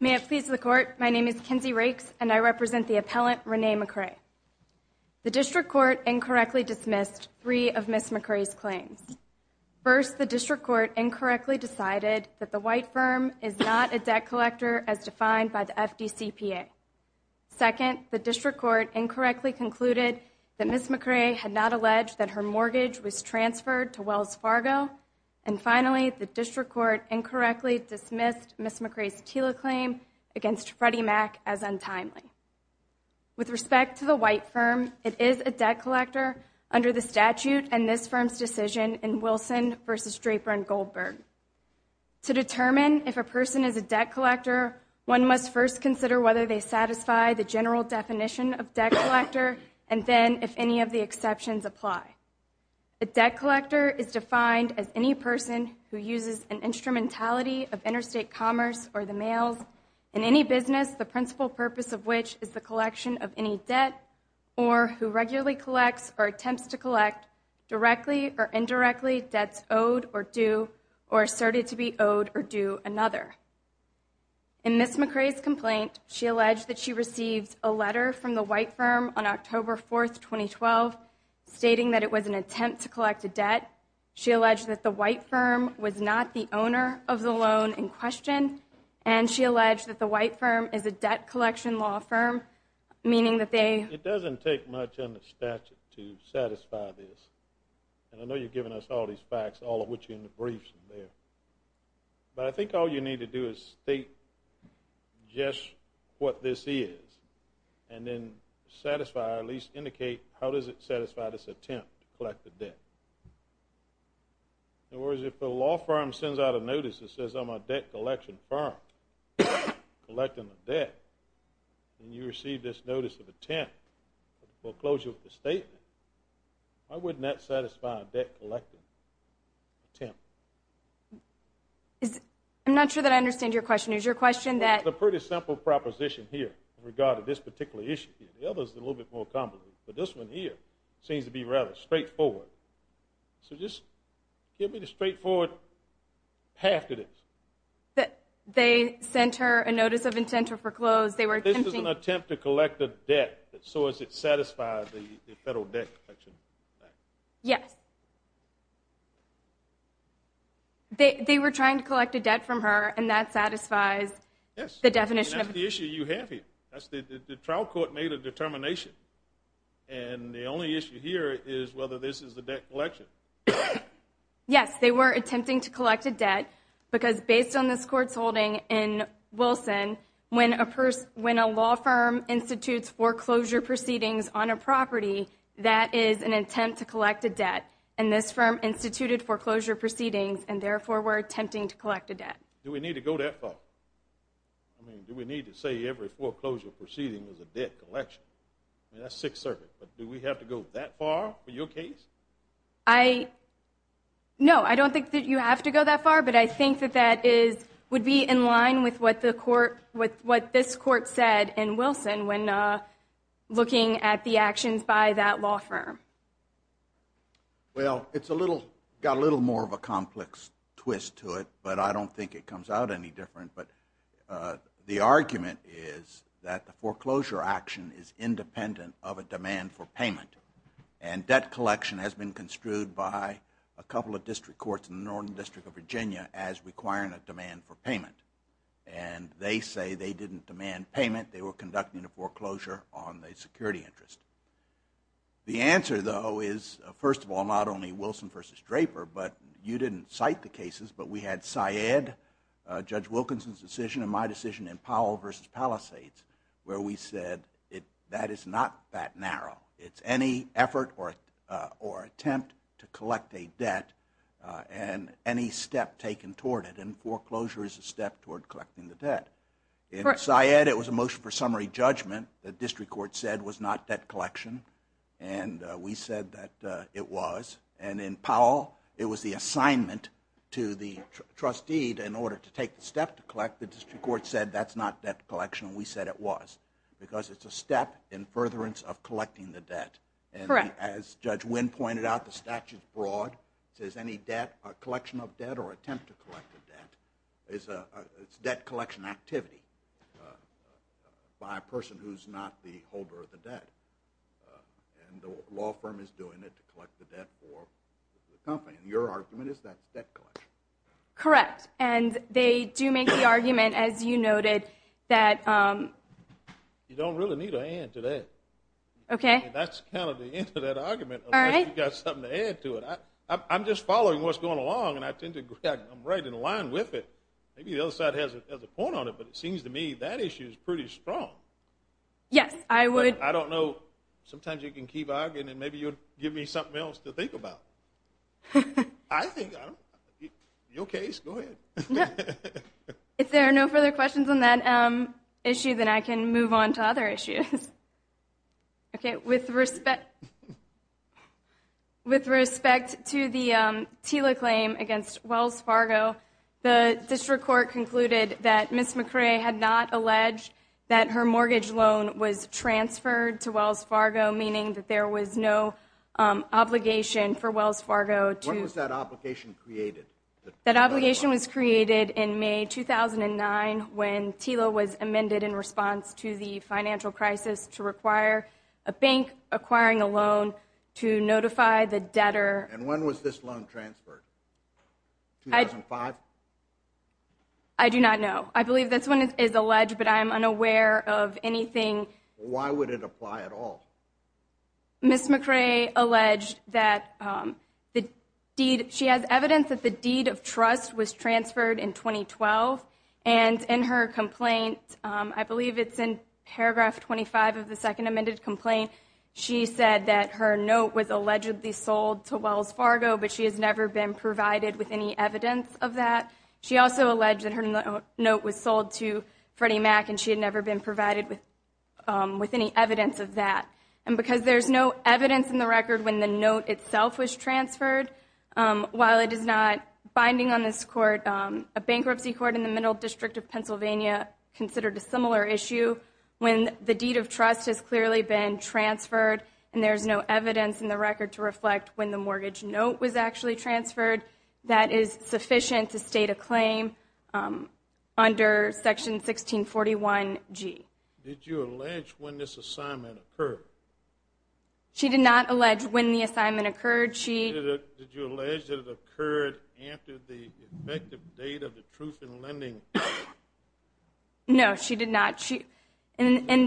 May it please the Court, my name is Kinsey Rakes, and I represent the appellant, Renee McCray. The District Court incorrectly dismissed three of Ms. McCray's claims. First, the District Court incorrectly decided that the white firm is not a debt collector as defined by the FDCPA. Second, the District Court incorrectly concluded that Ms. McCray had not alleged that her mortgage was transferred to Wells Fargo. And finally, the District Court incorrectly dismissed Ms. McCray's TILA claim against Freddie Mac as untimely. With respect to the white firm, it is a debt collector under the statute and this firm's decision in Wilson v. Draper v. Goldberg. To determine if a person is a debt collector, one must first consider whether they satisfy the general definition of debt collector and then if any of the exceptions apply. A debt collector is defined as any person who uses an instrumentality of interstate commerce or the mails in any business, the principal purpose of which is the collection of any debt or who regularly collects or attempts to collect directly or indirectly debts owed or due or asserted to be owed or due another. In Ms. McCray's complaint, she alleged that she received a letter from the white firm on October 4, 2012 stating that it was an attempt to collect a debt. She alleged that the white firm was not the owner of the loan in question and she alleged that the white firm is a debt collection law firm, meaning that they It doesn't take much under statute to satisfy this. And I know you've given us all these facts, all of which are in the briefs in there. But I think all you need to do is state just what this is and then satisfy or at least indicate how does it satisfy this attempt to collect a debt. In other words, if the law firm sends out a notice that says I'm a debt collection firm collecting a debt and you receive this notice of attempt, a foreclosure of the statement, why wouldn't that satisfy a debt collecting attempt? I'm not sure that I understand your question. Is your question that It's a pretty simple proposition here in regard to this particular issue. The others are a little bit more complicated. But this one here seems to be rather straightforward. So just give me the straightforward path to this. That they sent her a notice of intent to foreclose, they were attempting It wasn't an attempt to collect a debt. So does it satisfy the Federal Debt Collection Act? Yes. They were trying to collect a debt from her and that satisfies the definition of And that's the issue you have here. The trial court made a determination. And the only issue here is whether this is a debt collection. Yes, they were attempting to collect a debt because based on this court's holding in Wilson, when a law firm institutes foreclosure proceedings on a property, that is an attempt to collect a debt. And this firm instituted foreclosure proceedings and therefore were attempting to collect a debt. Do we need to go that far? I mean, do we need to say every foreclosure proceeding was a debt collection? I mean, that's Sixth Circuit. But do we have to go that far for your case? No, I don't think that you have to go that far. But I think that that would be in line with what this court said in Wilson when looking at the actions by that law firm. Well, it's got a little more of a complex twist to it. But I don't think it comes out any different. But the argument is that the foreclosure action is independent of a demand for payment. And debt collection has been construed by a couple of district courts in the Northern District of Virginia as requiring a demand for payment. And they say they didn't demand payment. They were conducting a foreclosure on the security interest. The answer, though, is, first of all, not only Wilson v. Draper, but you didn't cite the cases, but we had Syed, Judge Wilkinson's decision, and my decision in Powell v. Palisades where we said that is not that narrow. It's any effort or attempt to collect a debt and any step taken toward it. And foreclosure is a step toward collecting the debt. In Syed, it was a motion for summary judgment that district court said was not debt collection. And we said that it was. And in Powell, it was the assignment to the trustee in order to take the step to collect. The district court said that's not debt collection. We said it was. Because it's a step in furtherance of collecting the debt. Correct. And as Judge Wynn pointed out, the statute's broad. It says any debt, collection of debt or attempt to collect a debt, it's debt collection activity by a person who's not the holder of the debt. And the law firm is doing it to collect the debt for the company. And your argument is that's debt collection. Correct. And they do make the argument, as you noted, that you don't really need a hand to that. Okay. That's kind of the end of that argument unless you've got something to add to it. I'm just following what's going along, and I'm right in line with it. Maybe the other side has a point on it, but it seems to me that issue is pretty strong. Yes, I would. I don't know. Sometimes you can keep arguing, and maybe you'll give me something else to think about. I think your case, go ahead. If there are no further questions on that issue, then I can move on to other issues. Okay. With respect to the TILA claim against Wells Fargo, the district court concluded that Ms. McRae had not alleged that her mortgage loan was transferred to Wells Fargo, meaning that there was no obligation for Wells Fargo to When was that obligation created? That obligation was created in May 2009 when TILA was amended in response to the financial crisis to require a bank acquiring a loan to notify the debtor. And when was this loan transferred? 2005? I do not know. I believe this one is alleged, but I am unaware of anything. Why would it apply at all? Ms. McRae alleged that she has evidence that the deed of trust was transferred in 2012, and in her complaint, I believe it's in paragraph 25 of the second amended complaint, she said that her note was allegedly sold to Wells Fargo, but she has never been provided with any evidence of that. She also alleged that her note was sold to Freddie Mac, and she had never been provided with any evidence of that. And because there is no evidence in the record when the note itself was transferred, while it is not binding on this court, a bankruptcy court in the middle district of Pennsylvania considered a similar issue when the deed of trust has clearly been transferred and there is no evidence in the record to reflect when the mortgage note was actually transferred, that is sufficient to state a claim under section 1641G. Did you allege when this assignment occurred? She did not allege when the assignment occurred. Did you allege that it occurred after the effective date of the truth in lending? No, she did not. Was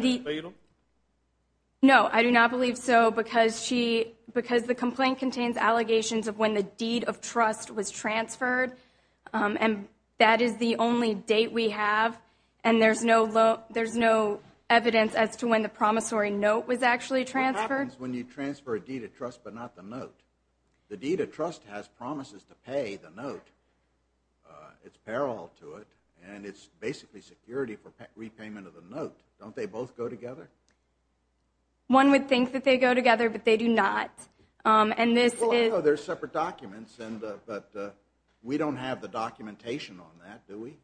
it fatal? No, I do not believe so, because the complaint contains allegations of when the deed of trust was transferred, and that is the only date we have, and there is no evidence as to when the promissory note was actually transferred. What happens when you transfer a deed of trust but not the note? The deed of trust has promises to pay the note, it's parallel to it, and it's basically security for repayment of the note. Don't they both go together? One would think that they go together, but they do not, and this is... Well, I know they're separate documents, but we don't have the documentation on that, do we?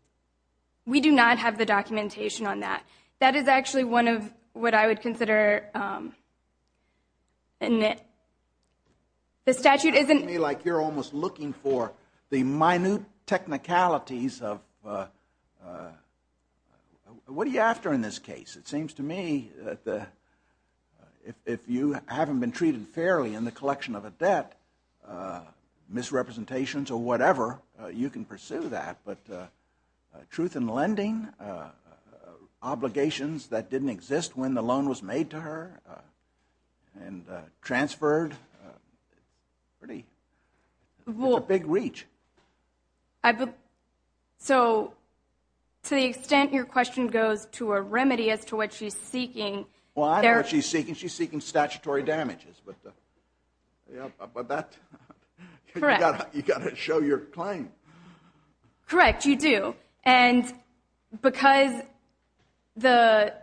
We do not have the documentation on that. That is actually one of what I would consider... The statute isn't... You're asking me like you're almost looking for the minute technicalities of... What are you after in this case? It seems to me that if you haven't been treated fairly in the collection of a debt, misrepresentations or whatever, you can pursue that, but truth in lending, obligations that didn't exist when the loan was made to her, and transferred, pretty... It's a big reach. So to the extent your question goes to a remedy as to what she's seeking... Well, I know what she's seeking. She's seeking statutory damages, but that... Correct. You've got to show your claim. Correct, you do, and because the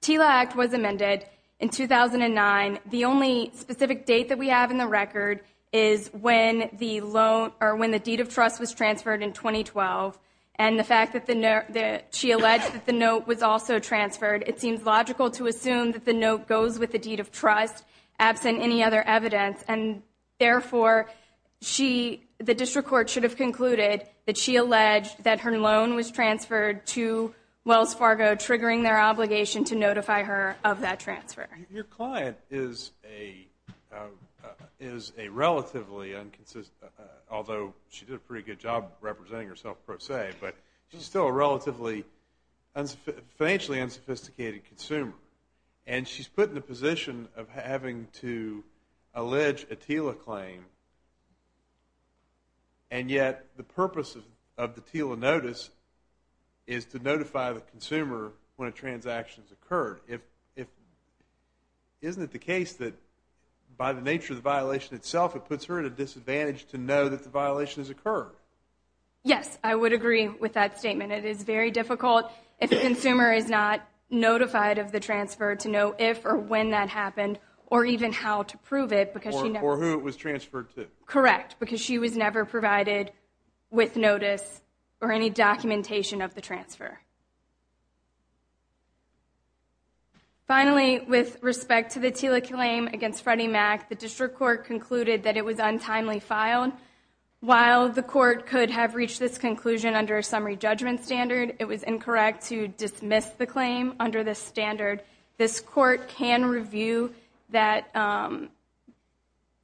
TILA Act was amended in 2009, the only specific date that we have in the record is when the deed of trust was transferred in 2012, and the fact that she alleged that the note was also transferred, it seems logical to assume that the note goes with the deed of trust, absent any other evidence, and therefore the district court should have concluded that she alleged that her loan was transferred to Wells Fargo, triggering their obligation to notify her of that transfer. Your client is a relatively inconsistent... although she did a pretty good job representing herself, per se, but she's still a relatively financially unsophisticated consumer, and she's put in the position of having to allege a TILA claim, and yet the purpose of the TILA notice is to notify the consumer when a transaction has occurred. Isn't it the case that by the nature of the violation itself, it puts her at a disadvantage to know that the violation has occurred? Yes, I would agree with that statement. It is very difficult if the consumer is not notified of the transfer to know if or when that happened, or even how to prove it, because she never... Or who it was transferred to. Correct, because she was never provided with notice or any documentation of the transfer. Finally, with respect to the TILA claim against Freddie Mac, the district court concluded that it was untimely filed. While the court could have reached this conclusion under a summary judgment standard, it was incorrect to dismiss the claim under this standard. This court can review the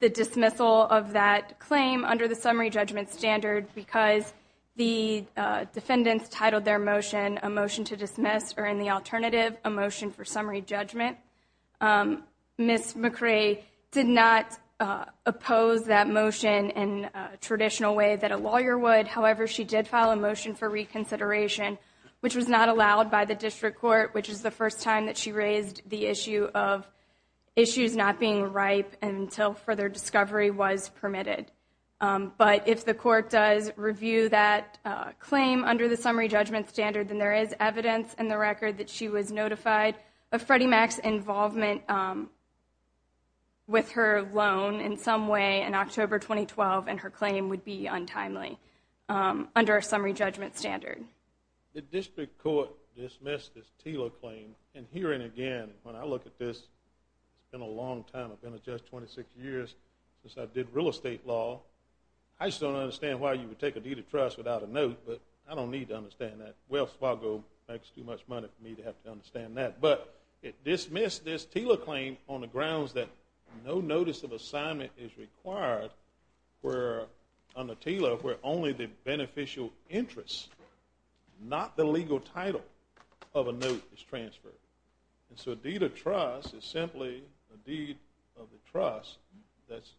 dismissal of that claim under the summary judgment standard because the defendants titled their motion a motion to dismiss or in the alternative, a motion for summary judgment. Ms. McRae did not oppose that motion in a traditional way that a lawyer would. However, she did file a motion for reconsideration, which was not allowed by the district court, which is the first time that she raised the issue of issues not being ripe until further discovery was permitted. But if the court does review that claim under the summary judgment standard, then there is evidence in the record that she was notified of Freddie Mac's involvement with her loan in some way in October 2012, and her claim would be untimely under a summary judgment standard. The district court dismissed this TILA claim, and here and again, when I look at this, it's been a long time. I've been a judge 26 years since I did real estate law. I just don't understand why you would take a deed of trust without a note, but I don't need to understand that. Wells Fargo makes too much money for me to have to understand that. But it dismissed this TILA claim on the grounds that no notice of assignment is required under TILA where only the beneficial interests, not the legal title of a note, is transferred. And so a deed of trust is simply a deed of the trust that's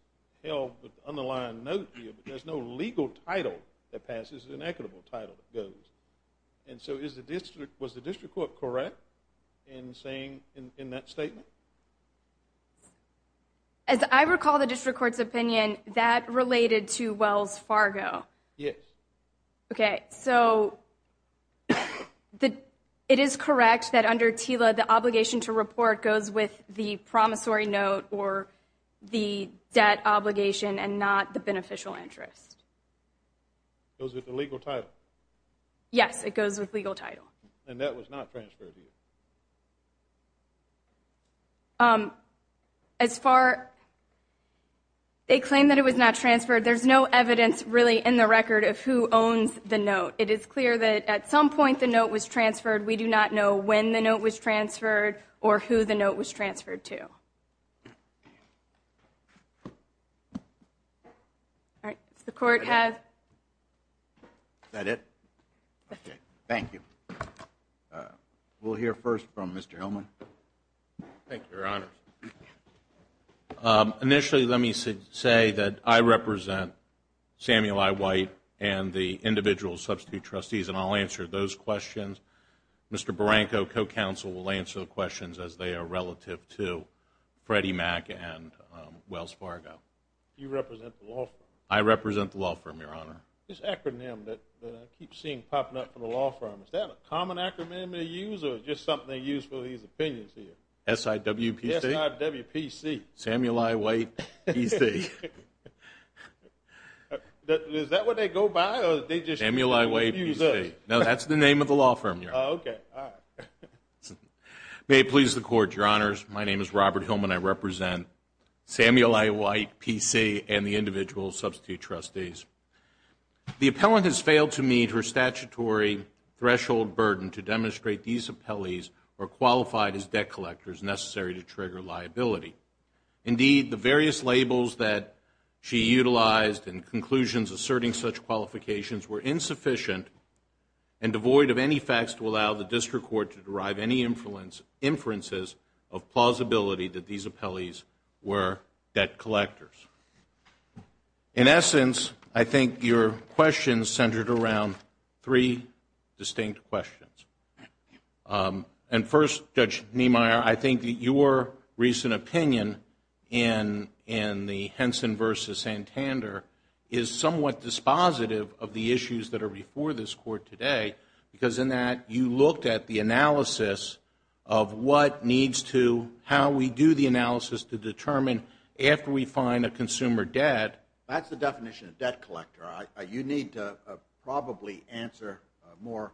held with the underlying note here, and there's no legal title that passes, an equitable title that goes. And so was the district court correct in saying in that statement? As I recall the district court's opinion, that related to Wells Fargo. Yes. Okay, so it is correct that under TILA, the obligation to report goes with the promissory note or the debt obligation and not the beneficial interest. It goes with the legal title? Yes, it goes with legal title. And that was not transferred to you? As far as they claim that it was not transferred, there's no evidence really in the record of who owns the note. It is clear that at some point the note was transferred. We do not know when the note was transferred or who the note was transferred to. All right, does the court have? Is that it? Okay, thank you. We'll hear first from Mr. Hillman. Thank you, Your Honors. Initially, let me say that I represent Samuel I. White and the individual substitute trustees, and I'll answer those questions. Mr. Barranco, co-counsel, will answer the questions as they are relative to Freddie Mac and Wells Fargo. You represent the law firm? I represent the law firm, Your Honor. This acronym that I keep seeing popping up for the law firm, is that a common acronym they use or is it just something they use for these opinions here? S-I-W-P-C. S-I-W-P-C. Samuel I. White, PC. Samuel I. White, PC. Is that what they go by? Samuel I. White, PC. No, that's the name of the law firm, Your Honor. Okay, all right. May it please the Court, Your Honors. My name is Robert Hillman. I represent Samuel I. White, PC, and the individual substitute trustees. The appellant has failed to meet her statutory threshold burden to demonstrate these appellees are qualified as debt collectors necessary to trigger liability. Indeed, the various labels that she utilized and conclusions asserting such qualifications were insufficient and devoid of any facts to allow the district court to derive any inferences of plausibility that these appellees were debt collectors. In essence, I think your question centered around three distinct questions. And first, Judge Niemeyer, I think that your recent opinion in the Henson v. Santander is somewhat dispositive of the issues that are before this Court today because in that you looked at the analysis of what needs to, how we do the analysis to determine after we find a consumer debt. That's the definition of debt collector. You need to probably answer more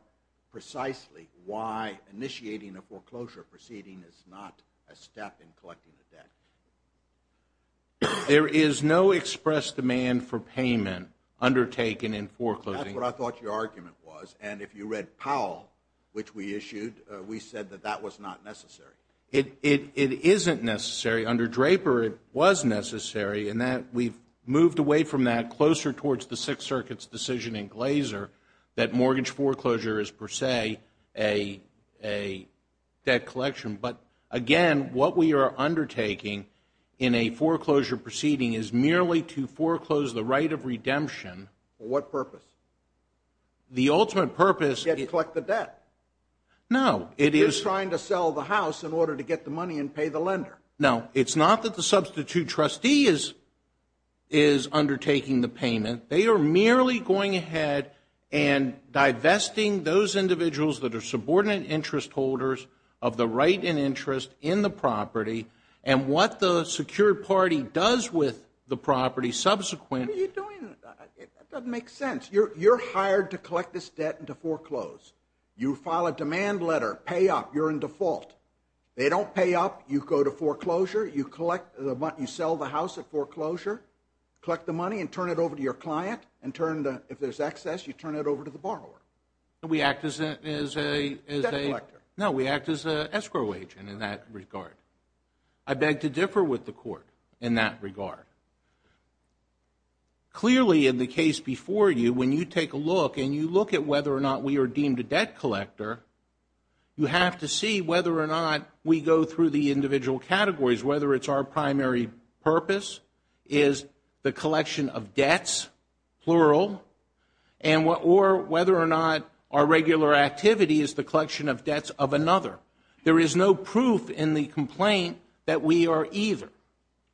precisely why initiating a foreclosure proceeding is not a step in collecting the debt. There is no express demand for payment undertaken in foreclosing. That's what I thought your argument was. And if you read Powell, which we issued, we said that that was not necessary. It isn't necessary. Under Draper, it was necessary. And we've moved away from that closer towards the Sixth Circuit's decision in Glaser that mortgage foreclosure is per se a debt collection. But, again, what we are undertaking in a foreclosure proceeding is merely to foreclose the right of redemption. For what purpose? The ultimate purpose is to collect the debt. No. You're trying to sell the house in order to get the money and pay the lender. No, it's not that the substitute trustee is undertaking the payment. They are merely going ahead and divesting those individuals that are subordinate interest holders of the right and interest in the property and what the secured party does with the property subsequently. What are you doing? That doesn't make sense. You're hired to collect this debt and to foreclose. You file a demand letter, pay up, you're in default. They don't pay up. You go to foreclosure. You sell the house at foreclosure, collect the money and turn it over to your client. If there's excess, you turn it over to the borrower. We act as a? Debt collector. No, we act as an escrow agent in that regard. I beg to differ with the Court in that regard. Clearly, in the case before you, when you take a look and you look at whether or not we are deemed a debt collector, you have to see whether or not we go through the individual categories, whether it's our primary purpose is the collection of debts, plural, or whether or not our regular activity is the collection of debts of another. There is no proof in the complaint that we are either.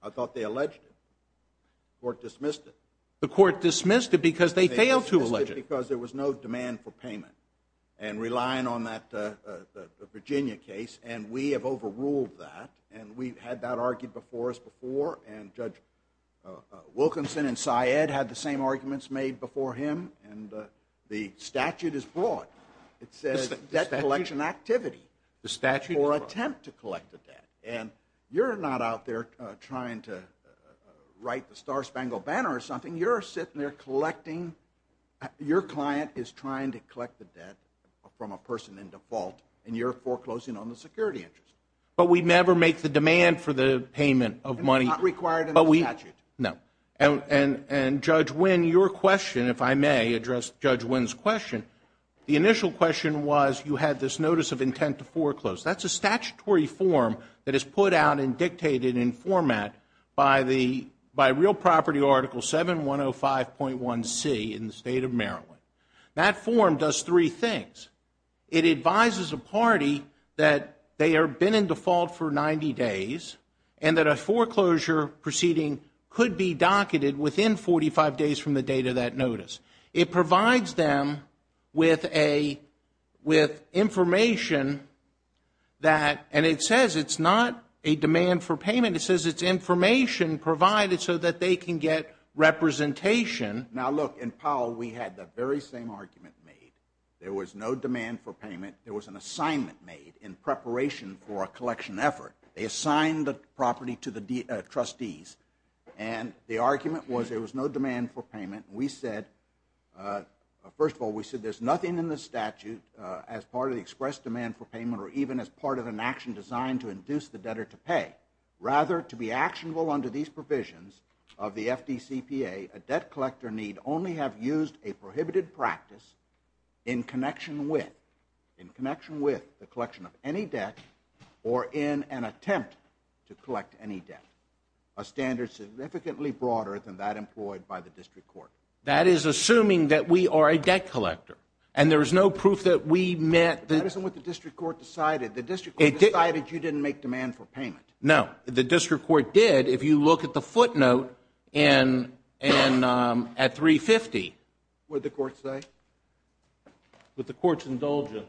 I thought they alleged it. The Court dismissed it. The Court dismissed it because they failed to allege it. The Court dismissed it because there was no demand for payment and relying on that Virginia case, and we have overruled that, and we've had that argued before us before, and Judge Wilkinson and Syed had the same arguments made before him, and the statute is broad. It says debt collection activity. The statute? Or attempt to collect the debt. You're not out there trying to write the Star Spangled Banner or something. When you're sitting there collecting, your client is trying to collect the debt from a person in default, and you're foreclosing on the security interest. But we never make the demand for the payment of money. It's not required in the statute. No. And, Judge Winn, your question, if I may address Judge Winn's question, the initial question was you had this notice of intent to foreclose. That's a statutory form that is put out and dictated in format by Real Property Article 7105.1c in the State of Maryland. That form does three things. It advises a party that they have been in default for 90 days and that a foreclosure proceeding could be docketed within 45 days from the date of that notice. It provides them with information that, and it says it's not a demand for payment. It says it's information provided so that they can get representation. Now, look, in Powell we had the very same argument made. There was no demand for payment. There was an assignment made in preparation for a collection effort. They assigned the property to the trustees, and the argument was there was no demand for payment. We said, first of all, we said there's nothing in the statute as part of the express demand for payment or even as part of an action designed to induce the debtor to pay. Rather, to be actionable under these provisions of the FDCPA, a debt collector need only have used a prohibited practice in connection with the collection of any debt or in an attempt to collect any debt, a standard significantly broader than that employed by the district court. That is assuming that we are a debt collector and there is no proof that we met the That isn't what the district court decided. The district court decided you didn't make demand for payment. No, the district court did if you look at the footnote at 350. What did the court say? What the court's indulgence.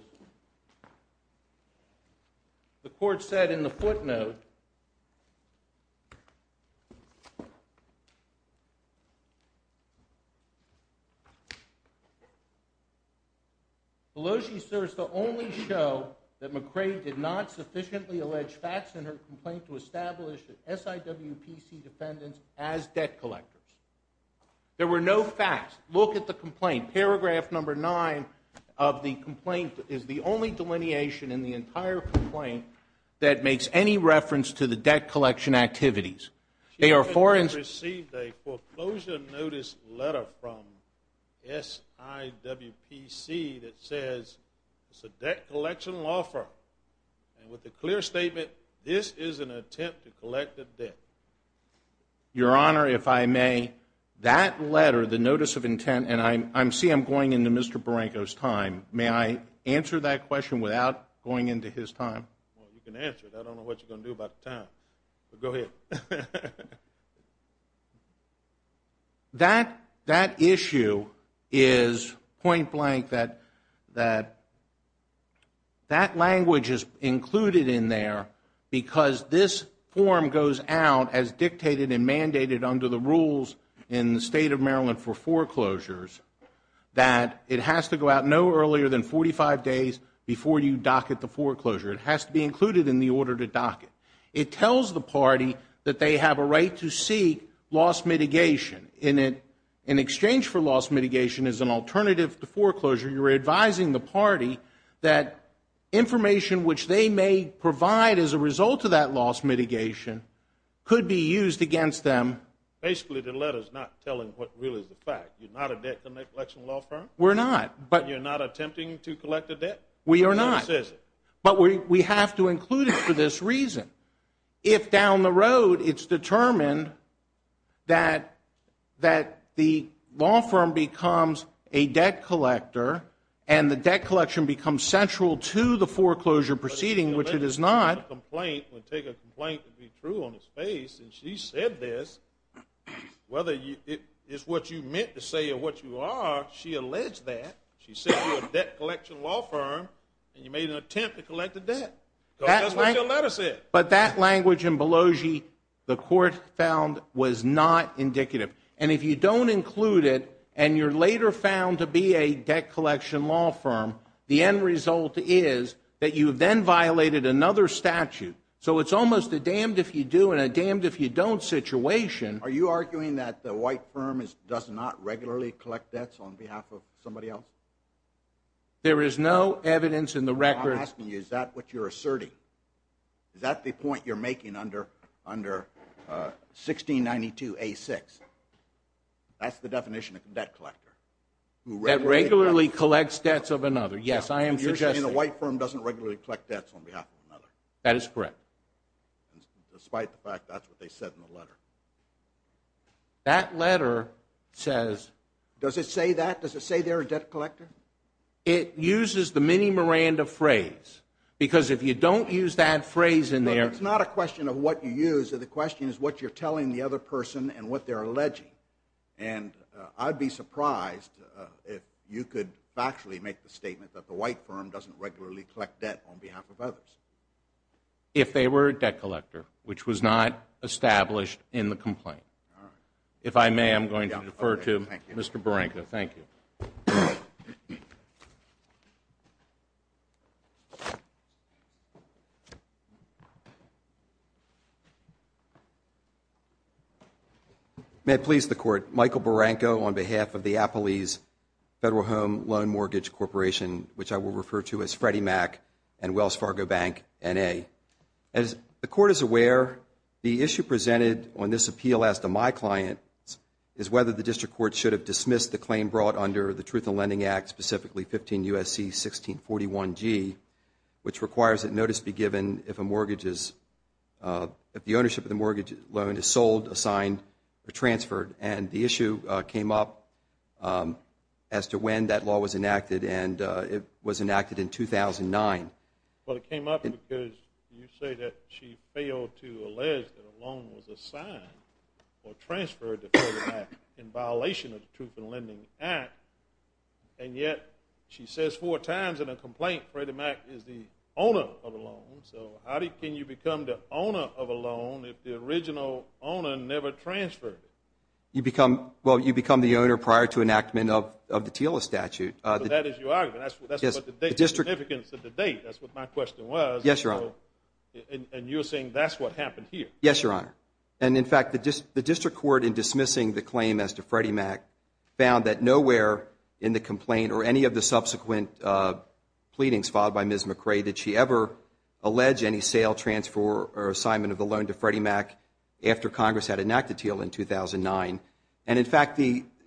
The court said in the footnote, Beloshi serves to only show that McRae did not sufficiently allege facts in her complaint to establish that SIWPC defendants as debt collectors. There were no facts. Look at the complaint. Paragraph number nine of the complaint is the only delineation in the entire complaint that makes any reference to the debt collection activities. They are foreign. She has received a foreclosure notice letter from SIWPC that says it's a debt collection law firm. And with a clear statement, this is an attempt to collect a debt. Your Honor, if I may, that letter, the notice of intent, and I see I'm going into Mr. Barranco's time. May I answer that question without going into his time? Well, you can answer it. I don't know what you're going to do about the time. Go ahead. That issue is point blank that that language is included in there because this form goes out as dictated and mandated under the rules in the State of Maryland for foreclosures that it has to go out no earlier than 45 days before you docket the foreclosure. It has to be included in the order to docket. It tells the party that they have a right to seek loss mitigation. In exchange for loss mitigation as an alternative to foreclosure, you're advising the party that information which they may provide as a result of that loss mitigation could be used against them. Basically, the letter is not telling what really is the fact. You're not a debt collection law firm? We're not. You're not attempting to collect a debt? We are not. It never says it. But we have to include it for this reason. If down the road it's determined that the law firm becomes a debt collector and the debt collection becomes central to the foreclosure proceeding, which it is not. A complaint would take a complaint to be true on its face, and she said this, whether it's what you meant to say or what you are, she alleged that. She said you're a debt collection law firm, and you made an attempt to collect a debt. That's what your letter said. But that language in Belogie the court found was not indicative. And if you don't include it and you're later found to be a debt collection law firm, the end result is that you then violated another statute. So it's almost a damned if you do and a damned if you don't situation. Are you arguing that the white firm does not regularly collect debts on behalf of somebody else? There is no evidence in the record. I'm asking you, is that what you're asserting? Is that the point you're making under 1692A6? That's the definition of debt collector. That regularly collects debts of another. Yes, I am suggesting. You're saying the white firm doesn't regularly collect debts on behalf of another. That is correct. Despite the fact that's what they said in the letter. That letter says. Does it say that? Does it say they're a debt collector? It uses the mini Miranda phrase. Because if you don't use that phrase in there. It's not a question of what you use. The question is what you're telling the other person and what they're alleging. And I'd be surprised if you could factually make the statement that the white firm doesn't regularly collect debt on behalf of others. If they were a debt collector, which was not established in the complaint. If I may, I'm going to defer to Mr. Barranco. Thank you. May it please the Court. Michael Barranco on behalf of the Appalese Federal Home Loan Mortgage Corporation, which I will refer to as Freddie Mac and Wells Fargo Bank, N.A. As the Court is aware, the issue presented on this appeal as to my client is whether the District Court should have dismissed the claim brought under the Truth in Lending Act, specifically 15 U.S.C. 1641G, which requires that notice be given if a mortgage is, if the ownership of the mortgage loan is sold, assigned, or transferred. And the issue came up as to when that law was enacted, and it was enacted in 2009. Well, it came up because you say that she failed to allege that a loan was assigned or transferred to Freddie Mac in violation of the Truth in Lending Act, and yet she says four times in a complaint Freddie Mac is the owner of the loan. So how can you become the owner of a loan if the original owner never transferred it? Well, you become the owner prior to enactment of the TILA statute. So that is your argument. That's the significance of the date. That's what my question was. Yes, Your Honor. And you're saying that's what happened here. Yes, Your Honor. And, in fact, the District Court, in dismissing the claim as to Freddie Mac, found that nowhere in the complaint or any of the subsequent pleadings filed by Ms. McRae did she ever allege any sale, transfer, or assignment of the loan to Freddie Mac after Congress had enacted TILA in 2009. And, in fact,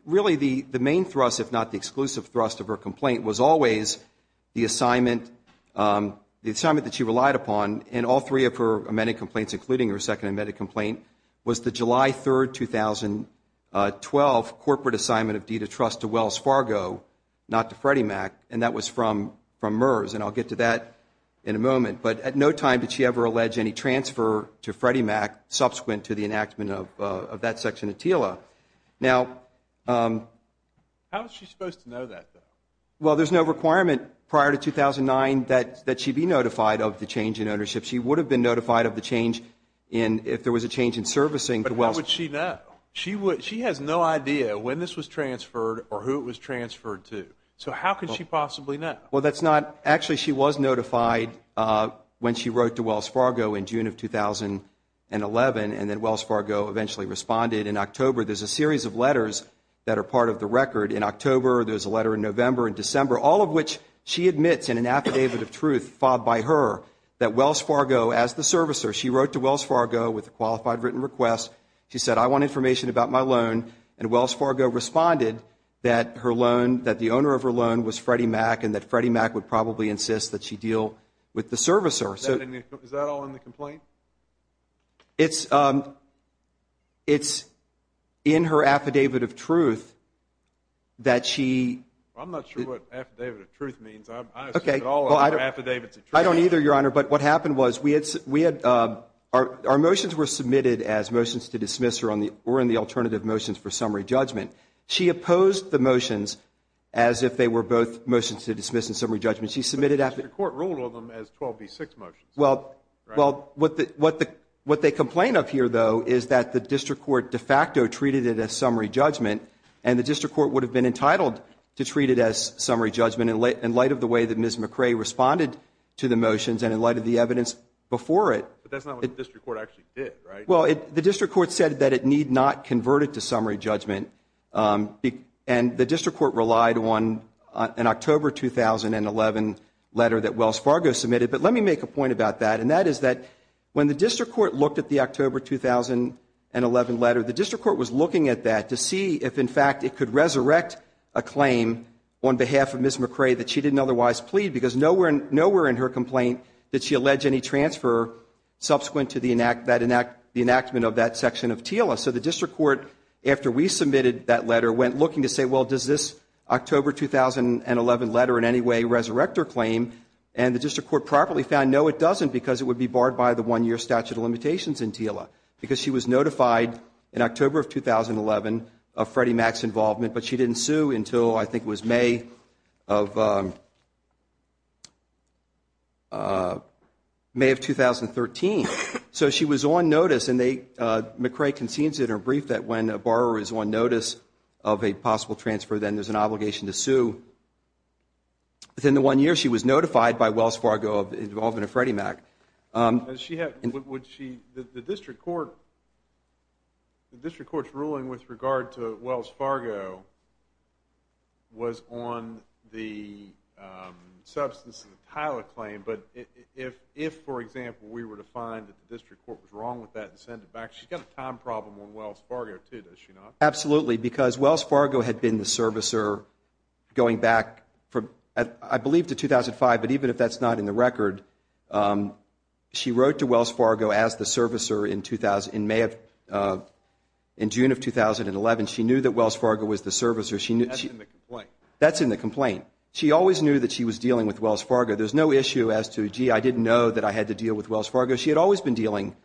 really the main thrust, if not the exclusive thrust, of her complaint was always the assignment that she relied upon in all three of her amended complaints, including her second amended complaint, was the July 3, 2012, corporate assignment of deed of trust to Wells Fargo, not to Freddie Mac, and that was from MERS. And I'll get to that in a moment. But at no time did she ever allege any transfer to Freddie Mac subsequent to the enactment of that section of TILA. Now, how was she supposed to know that, though? Well, there's no requirement prior to 2009 that she be notified of the change in ownership. She would have been notified of the change if there was a change in servicing to Wells Fargo. But how would she know? She has no idea when this was transferred or who it was transferred to. So how could she possibly know? Well, that's not actually she was notified when she wrote to Wells Fargo in June of 2011, and then Wells Fargo eventually responded in October. There's a series of letters that are part of the record in October. There's a letter in November and December, all of which she admits in an affidavit of truth filed by her that Wells Fargo, as the servicer, she wrote to Wells Fargo with a qualified written request. She said, I want information about my loan, and Wells Fargo responded that her loan, that the owner of her loan was Freddie Mac and that Freddie Mac would probably insist that she deal with the servicer. Is that all in the complaint? It's in her affidavit of truth that she. I'm not sure what affidavit of truth means. I assume it's all affidavits of truth. I don't either, Your Honor. But what happened was our motions were submitted as motions to dismiss her or in the alternative motions for summary judgment. She opposed the motions as if they were both motions to dismiss in summary judgment. She submitted after. The district court ruled on them as 12B6 motions. Well, what they complain of here, though, is that the district court de facto treated it as summary judgment, and the district court would have been entitled to treat it as summary judgment in light of the way that Ms. McRae responded to the motions and in light of the evidence before it. But that's not what the district court actually did, right? Well, the district court said that it need not convert it to summary judgment, and the district court relied on an October 2011 letter that Wells Fargo submitted. But let me make a point about that, and that is that when the district court looked at the October 2011 letter, the district court was looking at that to see if, in fact, it could resurrect a claim on behalf of Ms. McRae that she didn't otherwise plead, because nowhere in her complaint did she allege any transfer subsequent to the enactment of that section of TILA. So the district court, after we submitted that letter, went looking to say, well, does this October 2011 letter in any way resurrect her claim? And the district court properly found, no, it doesn't, because it would be barred by the one-year statute of limitations in TILA, because she was notified in October of 2011 of Freddie Mac's involvement, but she didn't sue until I think it was May of 2013. So she was on notice, and McRae concedes in her brief that when a borrower is on notice of a possible transfer, then there's an obligation to sue. Within the one year, she was notified by Wells Fargo of the involvement of Freddie Mac. The district court's ruling with regard to Wells Fargo was on the substance of the TILA claim, but if, for example, we were to find that the district court was wrong with that and send it back, she's got a time problem on Wells Fargo, too, does she not? Absolutely, because Wells Fargo had been the servicer going back, I believe, to 2005, but even if that's not in the record, she wrote to Wells Fargo as the servicer in June of 2011. She knew that Wells Fargo was the servicer. That's in the complaint. That's in the complaint. She always knew that she was dealing with Wells Fargo. There's no issue as to, gee, I didn't know that I had to deal with Wells Fargo. She had always been dealing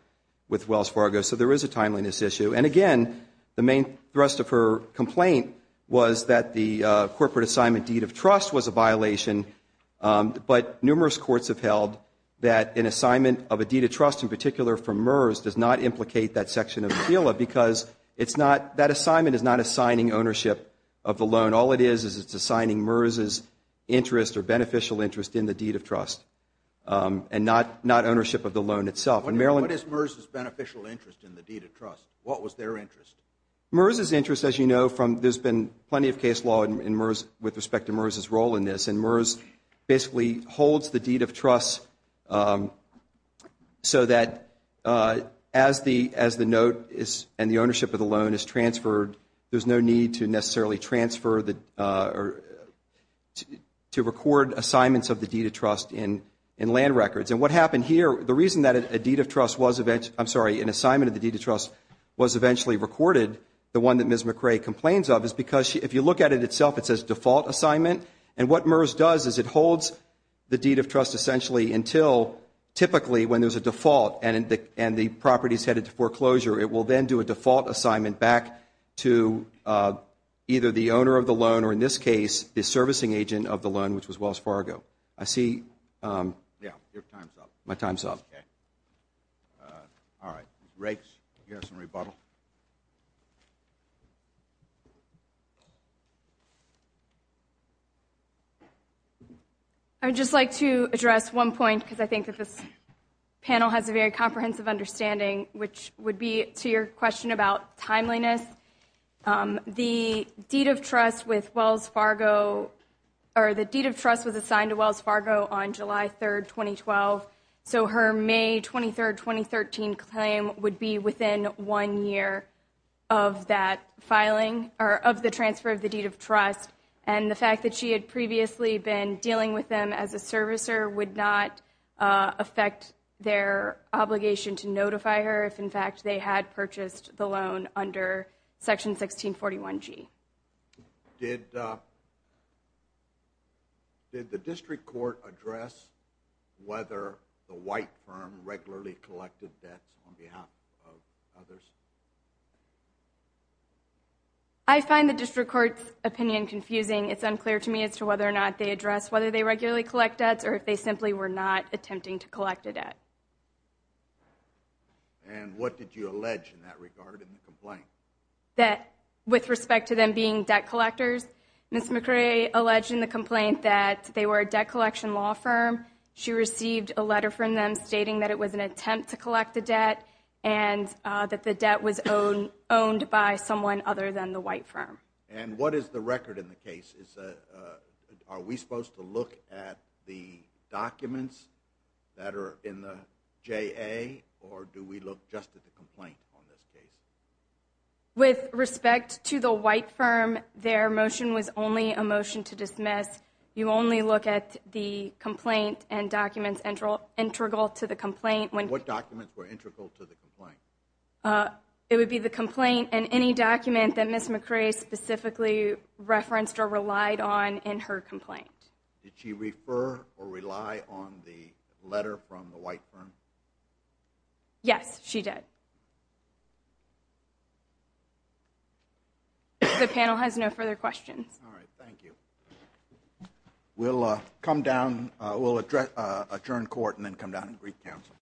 with Wells Fargo, so there is a timeliness issue. And, again, the main thrust of her complaint was that the corporate assignment deed of trust was a violation, but numerous courts have held that an assignment of a deed of trust, in particular from MERS, does not implicate that section of the TILA because that assignment is not assigning ownership of the loan. All it is is it's assigning MERS's interest or beneficial interest in the deed of trust and not ownership of the loan itself. What is MERS's beneficial interest in the deed of trust? What was their interest? MERS's interest, as you know, there's been plenty of case law with respect to MERS's role in this, and MERS basically holds the deed of trust so that as the note and the ownership of the loan is transferred, there's no need to necessarily transfer or to record assignments of the deed of trust in land records. And what happened here, the reason that a deed of trust was, I'm sorry, an assignment of the deed of trust was eventually recorded, the one that Ms. McRae complains of, is because if you look at it itself, it says default assignment, and what MERS does is it holds the deed of trust essentially until typically when there's a default and the property is headed to foreclosure. It will then do a default assignment back to either the owner of the loan or, in this case, the servicing agent of the loan, which was Wells Fargo. I see my time's up. Okay. All right, Ms. Rakes, do you have some rebuttal? I would just like to address one point because I think that this panel has a very comprehensive understanding, which would be to your question about timeliness. The deed of trust with Wells Fargo or the deed of trust was assigned to Wells Fargo on July 3, 2012, so her May 23, 2013 claim would be within one year of that filing or of the transfer of the deed of trust, and the fact that she had previously been dealing with them as a servicer would not affect their obligation to notify her if, in fact, they had purchased the loan under Section 1641G. Did the district court address whether the white firm regularly collected debts on behalf of others? I find the district court's opinion confusing. It's unclear to me as to whether or not they addressed whether they regularly collect debts or if they simply were not attempting to collect a debt. And what did you allege in that regard in the complaint? With respect to them being debt collectors, Ms. McRae alleged in the complaint that they were a debt collection law firm. She received a letter from them stating that it was an attempt to collect a debt and that the debt was owned by someone other than the white firm. And what is the record in the case? Are we supposed to look at the documents that are in the JA, or do we look just at the complaint on this case? With respect to the white firm, their motion was only a motion to dismiss. You only look at the complaint and documents integral to the complaint. It would be the complaint and any document that Ms. McRae specifically referenced or relied on in her complaint. Did she refer or rely on the letter from the white firm? Yes, she did. The panel has no further questions. All right, thank you. We'll come down, we'll adjourn court and then come down to Greek Council.